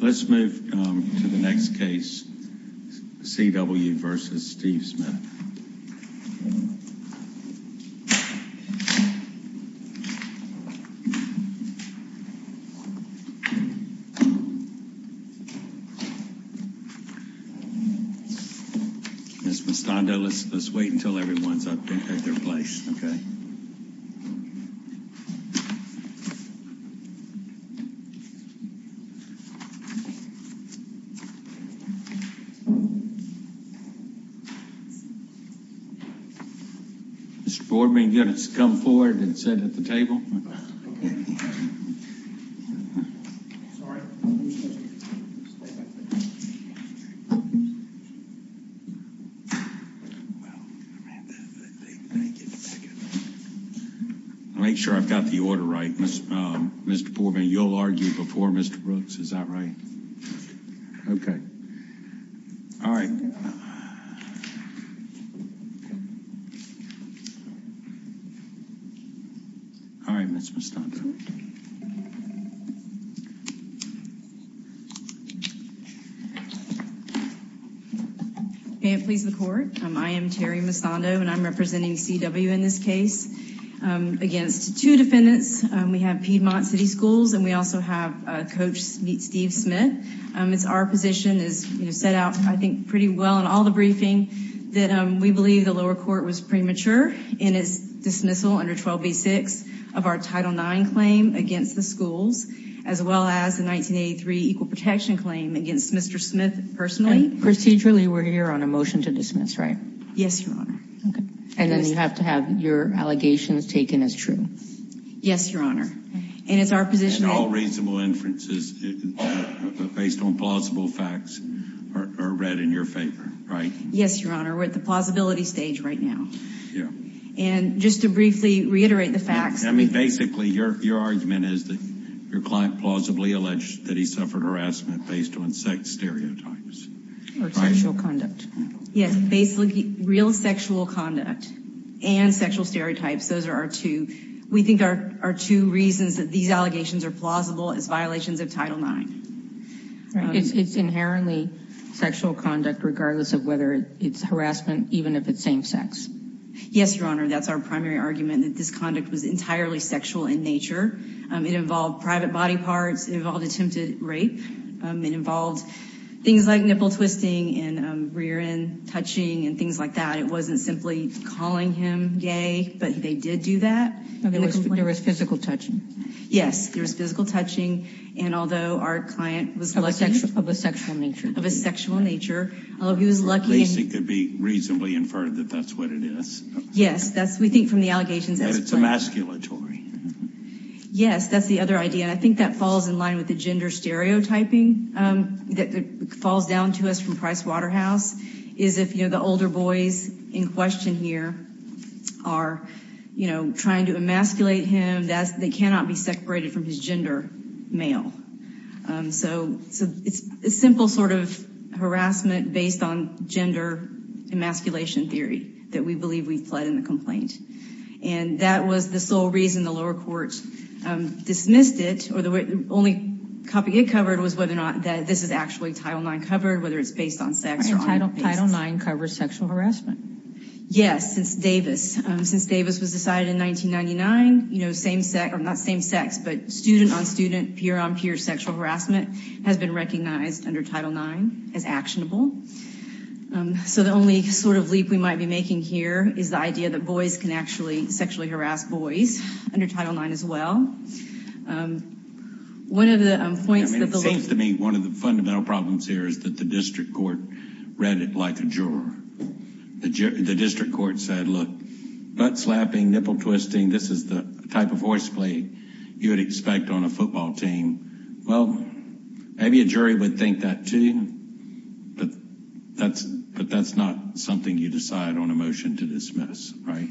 Let's move to the next case, C.W. v. Steve Smith. Ms. Mostondo, let's wait until everyone's at their place, okay? Mr. Boardman, get us to come forward and sit at the table. Make sure I've got the order right. Mr. Boardman, you'll argue before Mr. Brooks, is that right? Okay. All right. All right, Ms. Mostondo. May it please the Court, I am Terry Mostondo, and I'm representing C.W. in this case against two defendants. We have Piedmont City Schools, and we also have Coach v. Steve Smith. It's our position, as set out, I think, pretty well in all the briefing, that we believe the lower court was premature in its dismissal under 12b-6 of our Title IX claim against the schools, as well as the 1983 Equal Protection claim against Mr. Smith personally. Procedurally, we're here on a motion to dismiss, right? Yes, Your Honor. And then you have to have your allegations taken as true. Yes, Your Honor. And all reasonable inferences based on plausible facts are read in your favor, right? Yes, Your Honor. We're at the plausibility stage right now. And just to briefly reiterate the facts. I mean, basically, your argument is that your client plausibly alleged that he suffered harassment based on sex stereotypes. Or sexual conduct. Yes, basically, real sexual conduct and sexual stereotypes. Those are our two. We think our two reasons that these allegations are plausible is violations of Title IX. It's inherently sexual conduct, regardless of whether it's harassment, even if it's same-sex. Yes, Your Honor. That's our primary argument, that this conduct was entirely sexual in nature. It involved private body parts. It involved attempted rape. It involved things like nipple twisting and rear-end touching and things like that. It wasn't simply calling him gay, but they did do that. There was physical touching. Yes, there was physical touching. And although our client was lucky. Of a sexual nature. Of a sexual nature. Although he was lucky. At least it could be reasonably inferred that that's what it is. Yes, we think from the allegations as plain. But it's emasculatory. Yes, that's the other idea. And I think that falls in line with the gender stereotyping that falls down to us from Price Waterhouse. Is if, you know, the older boys in question here are, you know, trying to emasculate him. They cannot be separated from his gender, male. So it's a simple sort of harassment based on gender emasculation theory that we believe we fled in the complaint. And that was the sole reason the lower courts dismissed it. Or the only copy it covered was whether or not this is actually Title IX covered. Whether it's based on sex. Title IX covers sexual harassment. Yes, since Davis. Since Davis was decided in 1999. You know, same sex. Not same sex, but student on student, peer on peer sexual harassment has been recognized under Title IX as actionable. So the only sort of leap we might be making here is the idea that boys can actually sexually harass boys under Title IX as well. One of the points. It seems to me one of the fundamental problems here is that the district court read it like a juror. The district court said, look, butt slapping, nipple twisting. This is the type of horseplay you would expect on a football team. Well, maybe a jury would think that too. But that's not something you decide on a motion to dismiss. Right.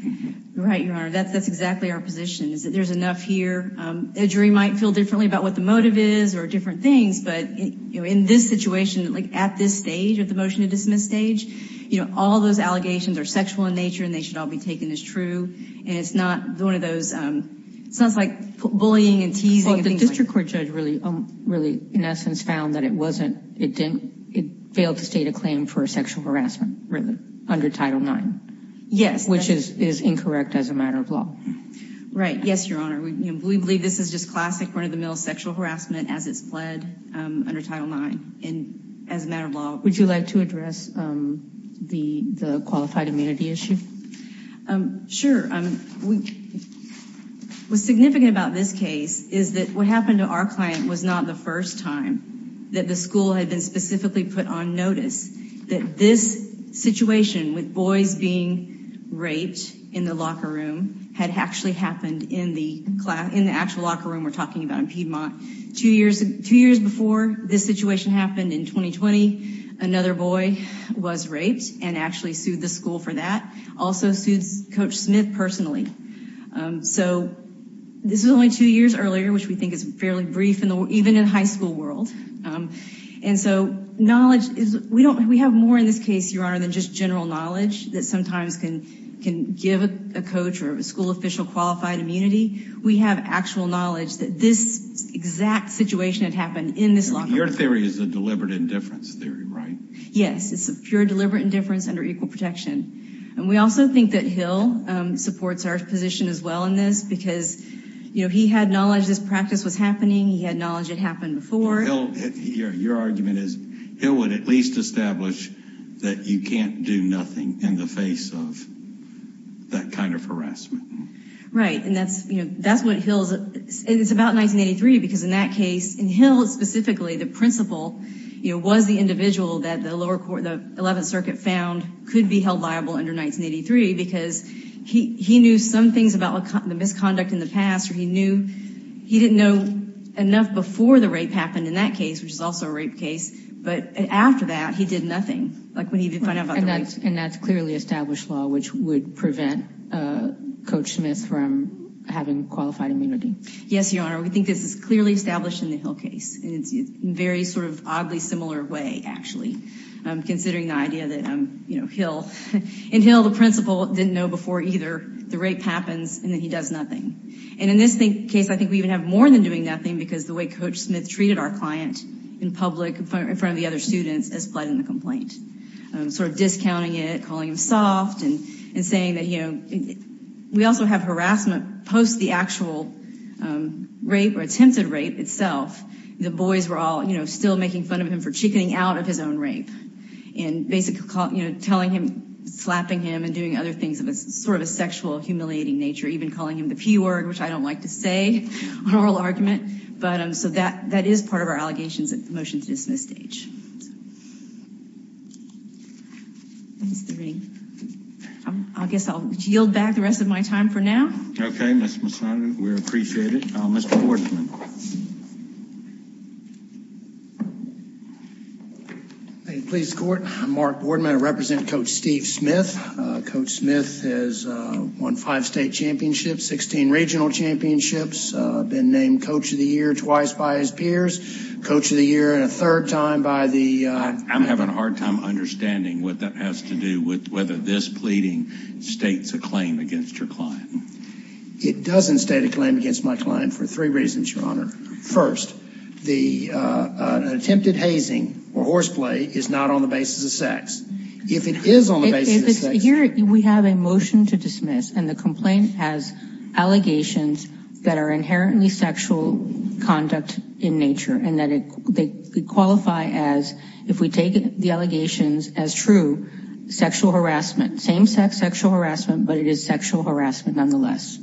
That's exactly our position is that there's enough here. A jury might feel differently about what the motive is or different things. But in this situation, like at this stage of the motion to dismiss stage, you know, all those allegations are sexual in nature and they should all be taken as true. And it's not one of those sounds like bullying and teasing. But the district court judge really, really, in essence, found that it wasn't. It didn't. It failed to state a claim for sexual harassment under Title IX. Yes. Which is incorrect as a matter of law. Right. Yes, Your Honor. We believe this is just classic run of the mill sexual harassment as it's pled under Title IX and as a matter of law. Would you like to address the qualified immunity issue? Sure. What's significant about this case is that what happened to our client was not the first time that the school had been specifically put on notice that this situation with boys being raped in the locker room had actually happened in the actual locker room we're talking about in Piedmont. Two years before this situation happened in 2020, another boy was raped and actually sued the school for that. Also sued Coach Smith personally. So this is only two years earlier, which we think is fairly brief even in the high school world. And so knowledge is, we have more in this case, Your Honor, than just general knowledge that sometimes can give a coach or a school official qualified immunity. We have actual knowledge that this exact situation had happened in this locker room. Your theory is a deliberate indifference theory, right? Yes. It's a pure deliberate indifference under equal protection. And we also think that Hill supports our position as well in this because, you know, he had knowledge this practice was happening. He had knowledge it happened before. Your argument is Hill would at least establish that you can't do nothing in the face of that kind of harassment. Right. And that's, you know, that's what Hill is. It's about 1983 because in that case, in Hill specifically, the principal, you know, was the individual that the lower court, the 11th Circuit found could be held liable under 1983 because he knew some things about the misconduct in the past. He knew he didn't know enough before the rape happened in that case, which is also a rape case. But after that, he did nothing. And that's clearly established law, which would prevent Coach Smith from having qualified immunity. Yes, Your Honor. We think this is clearly established in the Hill case. In a very sort of oddly similar way, actually, considering the idea that, you know, in Hill, the principal didn't know before either the rape happens and then he does nothing. And in this case, I think we even have more than doing nothing because the way Coach Smith treated our client in public in front of the other students as pled in the complaint, sort of discounting it, calling him soft and saying that, you know, we also have harassment post the actual rape or attempted rape itself. The boys were all, you know, still making fun of him for chickening out of his own rape and basically, you know, telling him, slapping him and doing other things of a sort of a sexual, humiliating nature, even calling him the P word, which I don't like to say, an oral argument. But so that that is part of our allegations at the motion to dismiss stage. I guess I'll yield back the rest of my time for now. OK, Mr. Masada, we appreciate it. Mr. Boardman. Please, Court. Mark Boardman, I represent Coach Steve Smith. Coach Smith has won five state championships, 16 regional championships, been named coach of the year twice by his peers, coach of the year and a third time by the. I'm having a hard time understanding what that has to do with whether this pleading states a claim against your client. It doesn't state a claim against my client for three reasons, Your Honor. First, the attempted hazing or horseplay is not on the basis of sex. If it is on the basis of sex. Here we have a motion to dismiss and the complaint has allegations that are inherently sexual conduct in nature and that they qualify as if we take the allegations as true, sexual harassment, same sex sexual harassment, but it is sexual harassment nonetheless.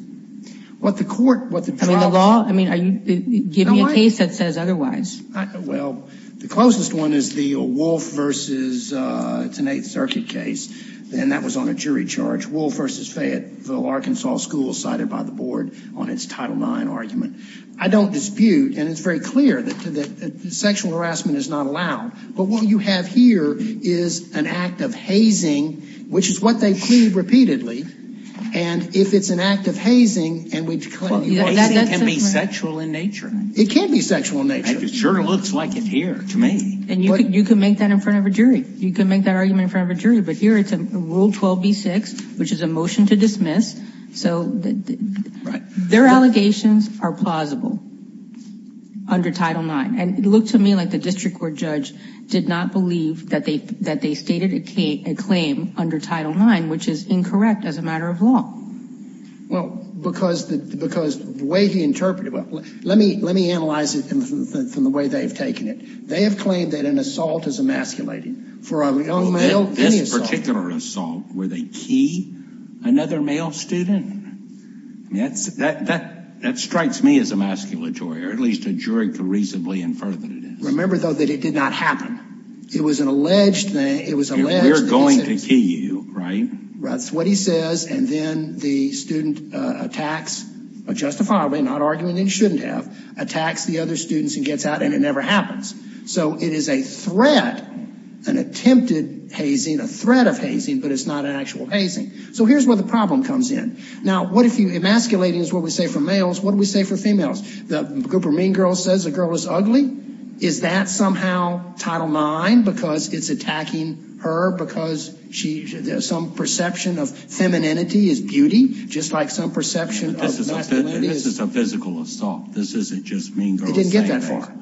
What the court, what the law. I mean, are you giving a case that says otherwise? Well, the closest one is the Wolf versus Tinnate Circuit case, and that was on a jury charge. Wolf versus Fayetteville, Arkansas school cited by the board on its Title IX argument. I don't dispute and it's very clear that sexual harassment is not allowed. But what you have here is an act of hazing, which is what they plead repeatedly. And if it's an act of hazing and we can be sexual in nature, it can be sexual nature. It sure looks like it here to me. And you can make that in front of a jury. You can make that argument in front of a jury. But here it's a Rule 12B-6, which is a motion to dismiss. So their allegations are plausible under Title IX. And it looked to me like the district court judge did not believe that they stated a claim under Title IX, which is incorrect as a matter of law. Well, because the way he interpreted it, let me analyze it from the way they've taken it. They have claimed that an assault is emasculating. For a young male, any assault. This particular assault, were they key another male student? That strikes me as emasculatory, or at least a jury could reasonably infer that it is. Remember, though, that it did not happen. It was an alleged thing. We're going to key you, right? That's what he says. And then the student attacks, justifiably, not arguing that he shouldn't have, attacks the other students and gets out, and it never happens. So it is a threat, an attempted hazing, a threat of hazing, but it's not an actual hazing. So here's where the problem comes in. Now, what if emasculating is what we say for males, what do we say for females? The group of mean girls says a girl is ugly. Is that somehow Title IX because it's attacking her because some perception of femininity is beauty, just like some perception of masculinity is? This is a physical assault. This isn't just mean girls saying that. It didn't get that far.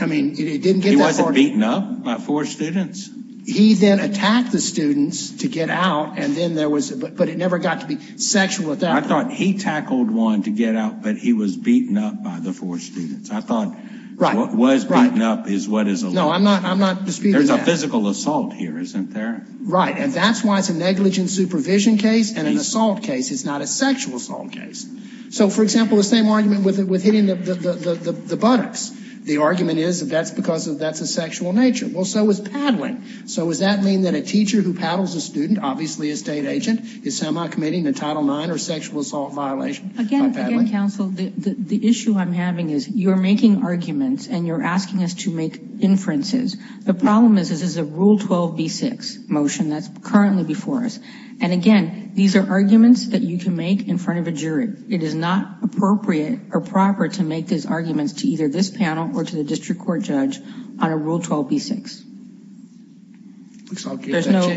I mean, it didn't get that far. He wasn't beaten up by four students. He then attacked the students to get out, but it never got to be sexual attack. I thought he tackled one to get out, but he was beaten up by the four students. I thought what was beaten up is what is alleged. No, I'm not disputing that. There's a physical assault here, isn't there? Right, and that's why it's a negligent supervision case and an assault case. It's not a sexual assault case. So, for example, the same argument with hitting the buttocks. The argument is that's because that's a sexual nature. Well, so is paddling. So does that mean that a teacher who paddles a student, obviously a state agent, is semi-committing a Title IX or sexual assault violation by paddling? Again, counsel, the issue I'm having is you're making arguments and you're asking us to make inferences. The problem is this is a Rule 12b-6 motion that's currently before us. And again, these are arguments that you can make in front of a jury. It is not appropriate or proper to make these arguments to either this panel or to the district court judge on a Rule 12b-6.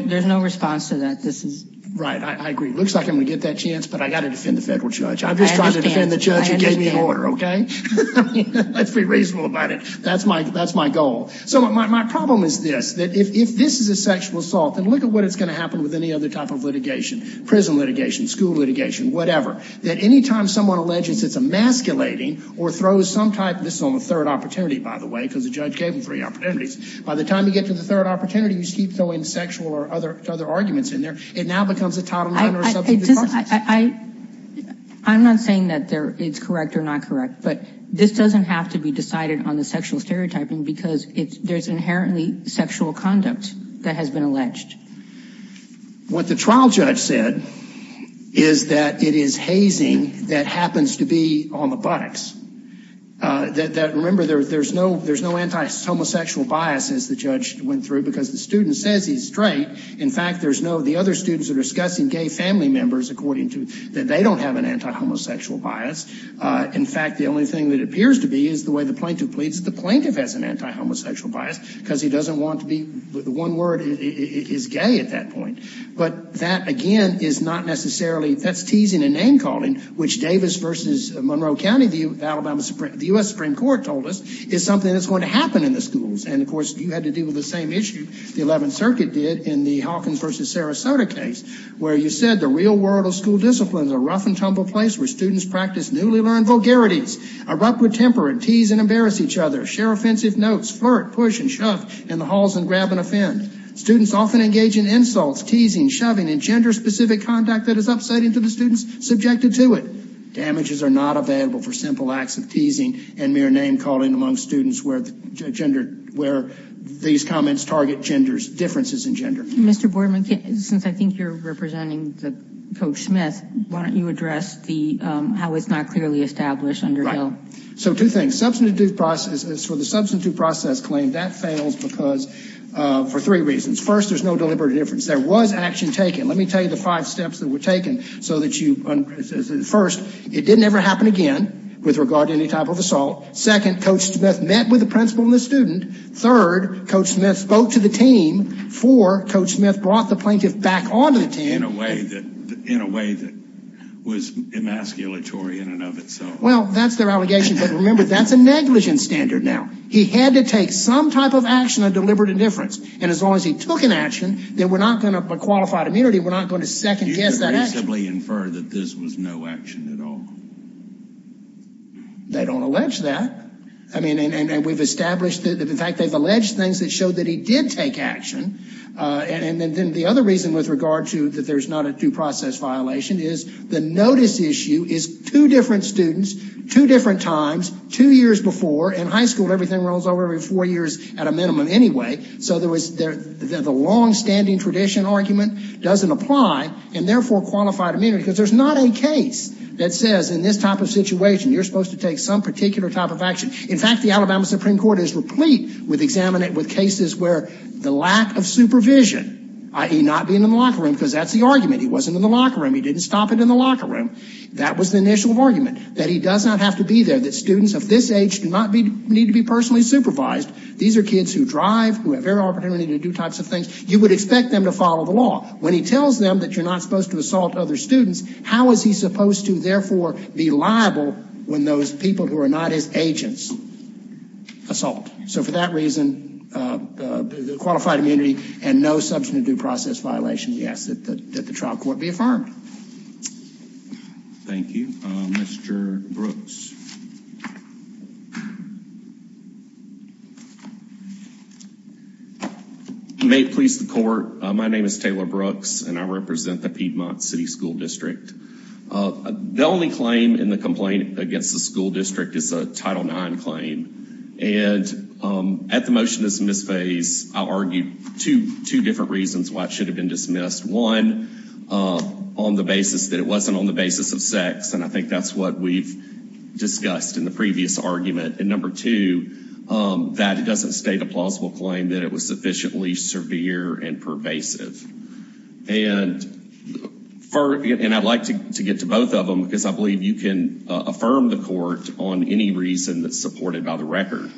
There's no response to that. Right, I agree. It looks like I'm going to get that chance, but I've got to defend the federal judge. I'm just trying to defend the judge who gave me an order, okay? Let's be reasonable about it. That's my goal. So my problem is this, that if this is a sexual assault, then look at what is going to happen with any other type of litigation, prison litigation, school litigation, whatever, that any time someone alleges it's emasculating or throws some type of this on the third opportunity, by the way, because the judge gave them three opportunities. By the time you get to the third opportunity, you keep throwing sexual or other arguments in there. It now becomes a Title IX or a substitute process. I'm not saying that it's correct or not correct, but this doesn't have to be decided on the sexual stereotyping because there's inherently sexual conduct that has been alleged. What the trial judge said is that it is hazing that happens to be on the buttocks. Remember, there's no anti-homosexual bias, as the judge went through, because the student says he's straight. In fact, there's no, the other students are discussing gay family members, according to, that they don't have an anti-homosexual bias. In fact, the only thing that appears to be is the way the plaintiff pleads. The plaintiff has an anti-homosexual bias because he doesn't want to be, the one word is gay at that point. But that, again, is not necessarily, that's teasing a name calling, which Davis versus Monroe County, the U.S. Supreme Court told us, is something that's going to happen in the schools. And, of course, you had to deal with the same issue the 11th Circuit did in the Hawkins versus Sarasota case, where you said, the real world of school discipline is a rough and tumble place where students practice newly learned vulgarities, erupt with temper and tease and embarrass each other, share offensive notes, flirt, push and shove in the halls and grab and offend. Students often engage in insults, teasing, shoving and gender specific conduct that is upsetting to the students subjected to it. Damages are not available for simple acts of teasing and mere name calling among students where these comments target differences in gender. Mr. Boardman, since I think you're representing Coach Smith, why don't you address how it's not clearly established under Hill? So two things. Substantive due process, for the substantive due process claim, that fails because, for three reasons. First, there's no deliberate difference. There was action taken. Let me tell you the five steps that were taken so that you, first, it didn't ever happen again with regard to any type of assault. Second, Coach Smith met with the principal and the student. Third, Coach Smith spoke to the team. Four, Coach Smith brought the plaintiff back onto the team. In a way that was emasculatory in and of itself. Well, that's their allegation. But remember, that's a negligence standard now. He had to take some type of action of deliberate indifference. And as long as he took an action, then we're not going to, by qualified immunity, we're not going to second guess that action. You could reasonably infer that this was no action at all. They don't allege that. I mean, and we've established that. In fact, they've alleged things that showed that he did take action. And then the other reason with regard to that there's not a due process violation is the notice issue is two different students, two different times, two years before. In high school, everything rolls over every four years at a minimum anyway. So there was the longstanding tradition argument doesn't apply and therefore qualified immunity. Because there's not a case that says in this type of situation, you're supposed to take some particular type of action. In fact, the Alabama Supreme Court is replete with cases where the lack of supervision, i.e. not being in the locker room, because that's the argument. He wasn't in the locker room. He didn't stop it in the locker room. That was the initial argument, that he does not have to be there, that students of this age do not need to be personally supervised. These are kids who drive, who have every opportunity to do types of things. You would expect them to follow the law. When he tells them that you're not supposed to assault other students, how is he supposed to therefore be liable when those people who are not his agents assault? So for that reason, the qualified immunity and no substantive due process violation, yes, that the trial court be affirmed. Thank you. Mr. Brooks. May it please the court. My name is Taylor Brooks and I represent the Piedmont City School District. The only claim in the complaint against the school district is a Title IX claim. And at the motion to dismiss phase, I argue two different reasons why it should have been dismissed. One, on the basis that it wasn't on the basis of sex. And I think that's what we've discussed in the previous argument. And number two, that it doesn't state a plausible claim that it was sufficiently severe and pervasive. And I'd like to get to both of them because I believe you can affirm the court on any reason that's supported by the record.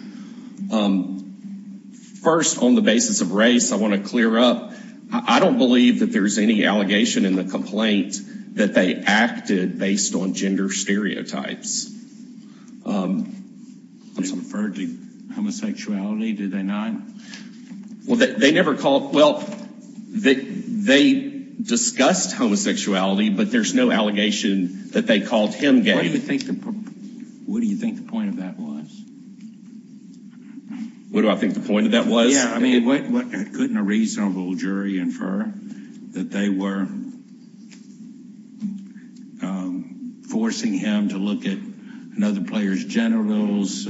First, on the basis of race, I want to clear up. I don't believe that there is any allegation in the complaint that they acted based on gender stereotypes. They referred to homosexuality, did they not? Well, they never called. Well, they discussed homosexuality, but there's no allegation that they called him gay. What do you think the point of that was? What do I think the point of that was? Couldn't a reasonable jury infer that they were forcing him to look at another player's genitals,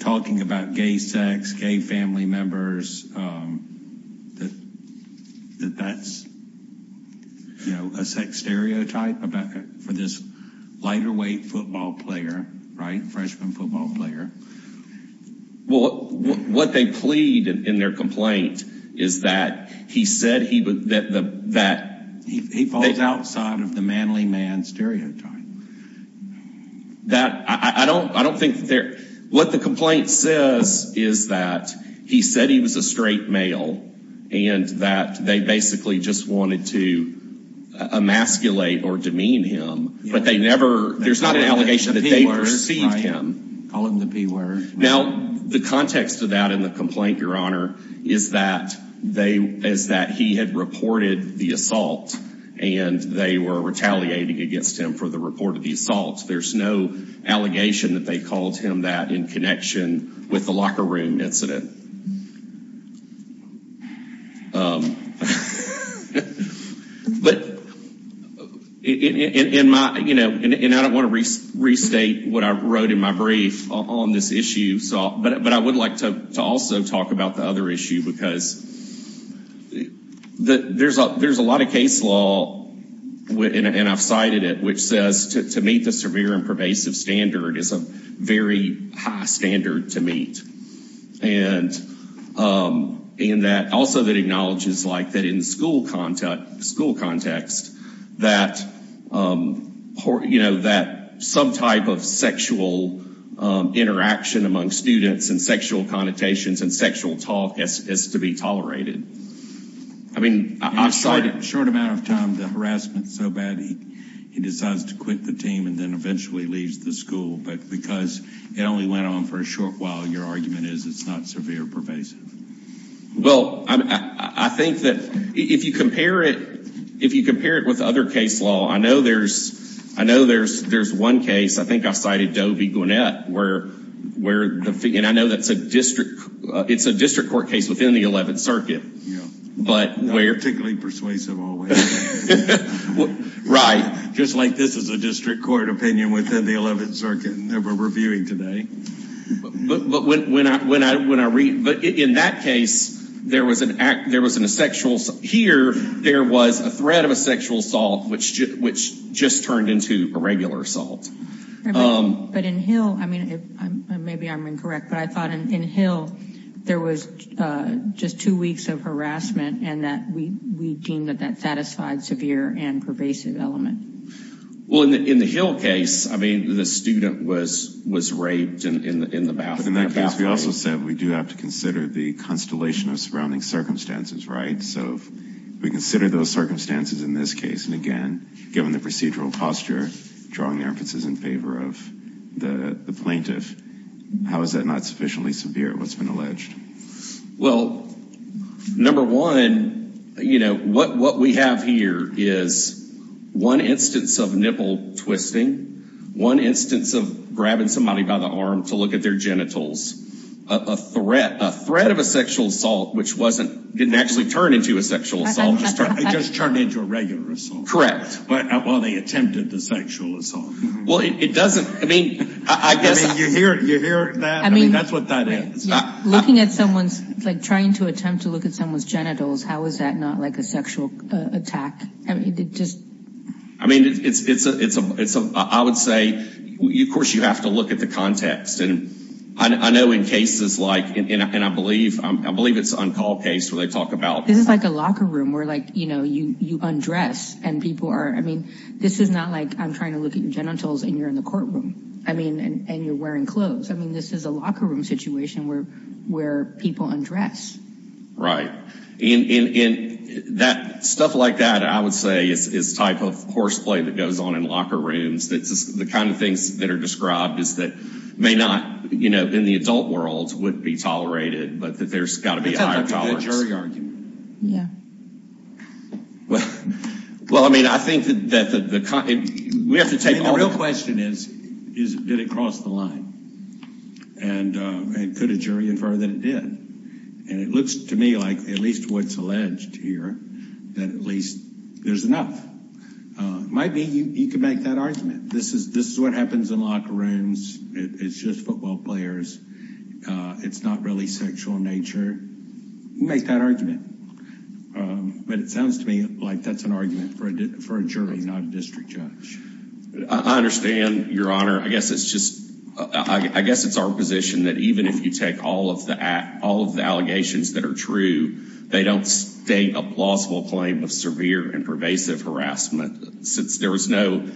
talking about gay sex, gay family members, that that's a sex stereotype for this lighter weight football player, right? Freshman football player. Well, what they plead in their complaint is that he said he was that he falls outside of the manly man stereotype. That I don't I don't think they're what the complaint says is that he said he was a straight male and that they basically just wanted to emasculate or demean him. There's not an allegation that they perceived him. Now, the context of that in the complaint, your honor, is that they is that he had reported the assault and they were retaliating against him for the report of the assault. There's no allegation that they called him that in connection with the locker room incident. But in my, you know, and I don't want to restate what I wrote in my brief on this issue, but I would like to also talk about the other issue because there's a lot of case law, and I've cited it, which says to meet the severe and pervasive standard is a very high standard to meet. And in that also that acknowledges like that in school contact school context, that, you know, that some type of sexual interaction among students and sexual connotations and sexual talk is to be tolerated. I mean, I've cited short amount of time, the harassment so bad he decides to quit the team and then eventually leaves the school. But because it only went on for a short while, your argument is it's not severe pervasive. Well, I think that if you compare it, if you compare it with other case law, I know there's I know there's there's one case. I think I cited Doe v. Gwinnett where where the and I know that's a district. It's a district court case within the 11th Circuit. But where particularly persuasive. Right. Just like this is a district court opinion within the 11th Circuit that we're reviewing today. But when I when I when I read it in that case, there was an act there was an sexual. Here there was a threat of a sexual assault, which which just turned into a regular assault. But in Hill, I mean, maybe I'm incorrect, but I thought in Hill there was just two weeks of harassment and that we deemed that that satisfied severe and pervasive element. Well, in the Hill case, I mean, the student was was raped in the bathroom. In that case, we also said we do have to consider the constellation of surrounding circumstances. Right. So we consider those circumstances in this case. And again, given the procedural posture, drawing emphases in favor of the plaintiff. How is that not sufficiently severe? What's been alleged? Well, number one, you know what? What we have here is one instance of nipple twisting. One instance of grabbing somebody by the arm to look at their genitals. A threat, a threat of a sexual assault, which wasn't didn't actually turn into a sexual assault. It just turned into a regular assault. Well, they attempted the sexual assault. Well, it doesn't. I mean, I guess you hear you hear that. I mean, that's what that is. Looking at someone's like trying to attempt to look at someone's genitals. How is that not like a sexual attack? I mean, just I mean, it's a it's a it's a I would say, of course, you have to look at the context. And I know in cases like and I believe I believe it's on call case where they talk about. This is like a locker room where like, you know, you undress and people are. I mean, this is not like I'm trying to look at your genitals and you're in the courtroom. I mean, and you're wearing clothes. I mean, this is a locker room situation where where people undress. Right. And that stuff like that, I would say is type of course play that goes on in locker rooms. That's the kind of things that are described as that may not, you know, in the adult world would be tolerated. But that there's got to be a jury argument. Yeah. Well, well, I mean, I think that the we have to take the real question is, is did it cross the line? And could a jury infer that it did? And it looks to me like at least what's alleged here, that at least there's enough. Might be you could make that argument. This is this is what happens in locker rooms. It's just football players. It's not really sexual nature. Make that argument. But it sounds to me like that's an argument for a for a jury, not a district judge. I understand, Your Honor. I guess it's just I guess it's our position that even if you take all of that, all of the allegations that are true, they don't state a plausible claim of severe and pervasive harassment since there was no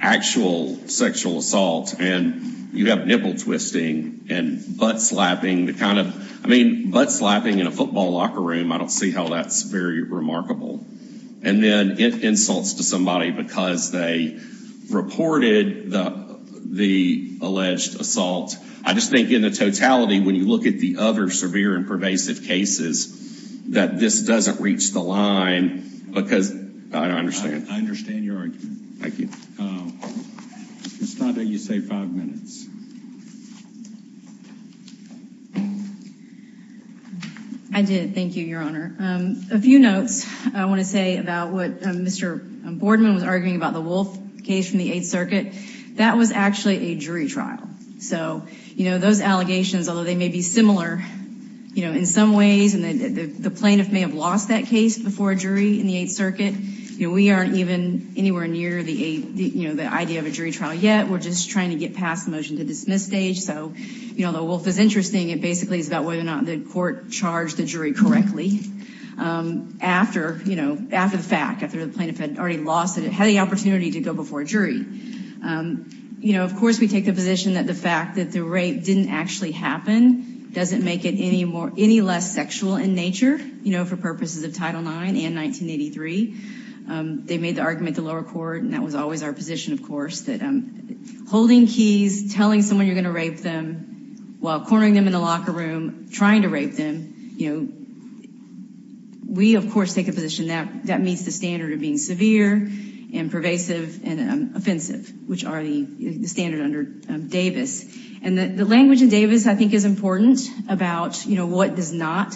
actual sexual assault. And you have nipple twisting and butt slapping the kind of I mean, butt slapping in a football locker room. I don't see how that's very remarkable. And then it insults to somebody because they reported the the alleged assault. I just think in the totality, when you look at the other severe and pervasive cases, that this doesn't reach the line because I understand. I understand your argument. Thank you. It's not that you say five minutes. I did. Thank you, Your Honor. A few notes I want to say about what Mr. Boardman was arguing about the Wolf case from the Eighth Circuit. That was actually a jury trial. So, you know, those allegations, although they may be similar, you know, in some ways. And the plaintiff may have lost that case before a jury in the Eighth Circuit. You know, we aren't even anywhere near the, you know, the idea of a jury trial yet. We're just trying to get past the motion to dismiss stage. So, you know, the Wolf is interesting. It basically is about whether or not the court charged the jury correctly after, you know, after the fact, after the plaintiff had already lost it, had the opportunity to go before a jury. You know, of course, we take the position that the fact that the rape didn't actually happen doesn't make it any more, any less sexual in nature, you know, for purposes of Title IX and 1983. They made the argument at the lower court, and that was always our position, of course, that holding keys, telling someone you're going to rape them while cornering them in the locker room, trying to rape them, you know, we, of course, take a position that that meets the standard of being severe and pervasive and offensive, which are the standard under Davis. And the language in Davis, I think, is important about, you know, what does not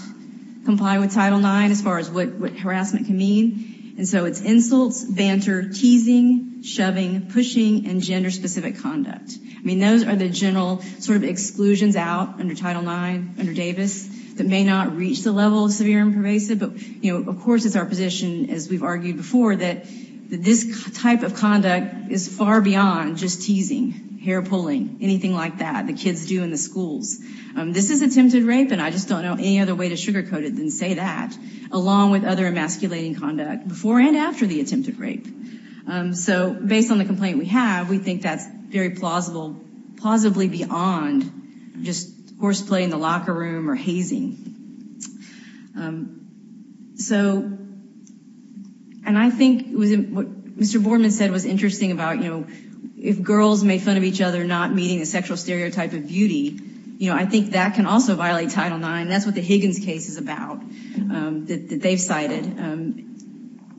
comply with Title IX as far as what harassment can mean. And so it's insults, banter, teasing, shoving, pushing, and gender-specific conduct. I mean, those are the general sort of exclusions out under Title IX, under Davis, that may not reach the level of severe and pervasive. But, you know, of course, it's our position, as we've argued before, that this type of conduct is far beyond just teasing, hair-pulling, anything like that the kids do in the schools. This is attempted rape, and I just don't know any other way to sugarcoat it than say that, along with other emasculating conduct before and after the attempted rape. So, based on the complaint we have, we think that's very plausible, plausibly beyond just horseplay in the locker room or hazing. So, and I think what Mr. Boardman said was interesting about, you know, if girls make fun of each other not meeting the sexual stereotype of beauty, you know, I think that can also violate Title IX. That's what the Higgins case is about, that they've cited.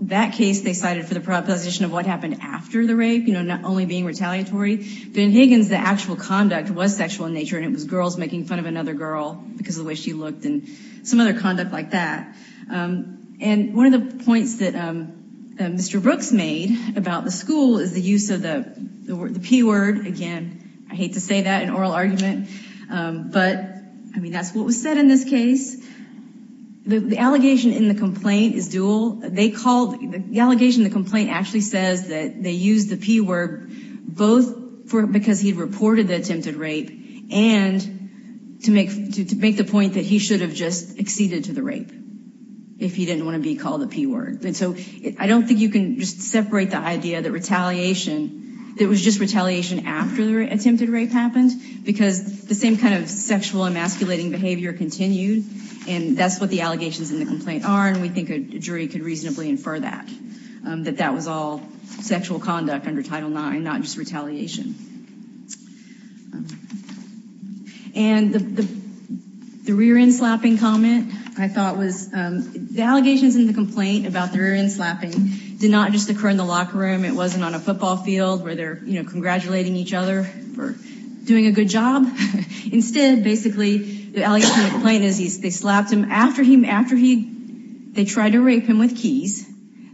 That case they cited for the proposition of what happened after the rape, you know, not only being retaliatory. But in Higgins, the actual conduct was sexual in nature, and it was girls making fun of another girl because of the way she looked and some other conduct like that. And one of the points that Mr. Brooks made about the school is the use of the P-word. Again, I hate to say that in oral argument, but, I mean, that's what was said in this case. The allegation in the complaint is dual. The allegation in the complaint actually says that they used the P-word both because he reported the attempted rape and to make the point that he should have just acceded to the rape if he didn't want to be called the P-word. And so I don't think you can just separate the idea that retaliation, it was just retaliation after the attempted rape happened because the same kind of sexual emasculating behavior continued. And that's what the allegations in the complaint are. And we think a jury could reasonably infer that, that that was all sexual conduct under Title IX, not just retaliation. And the rear-end slapping comment, I thought was, the allegations in the complaint about the rear-end slapping did not just occur in the locker room. It wasn't on a football field where they're congratulating each other for doing a good job. Instead, basically, the allegation in the complaint is they slapped him after he, they tried to rape him with keys.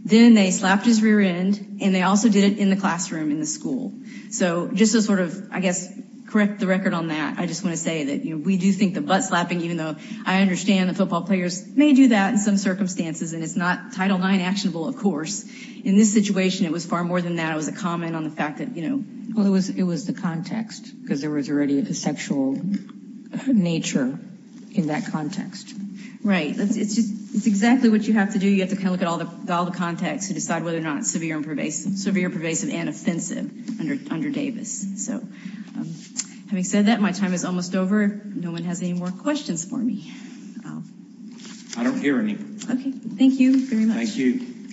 Then they slapped his rear end, and they also did it in the classroom in the school. So just to sort of, I guess, correct the record on that. I just want to say that we do think the butt-slapping, even though I understand the football players may do that in some circumstances, and it's not Title IX actionable, of course. In this situation, it was far more than that. It was a comment on the fact that, you know. Well, it was the context because there was already a sexual nature in that context. Right. It's just, it's exactly what you have to do. You have to kind of look at all the context to decide whether or not it's severe, pervasive, and offensive under Davis. So, having said that, my time is almost over. No one has any more questions for me. I don't hear any. Okay, thank you very much. Thank you.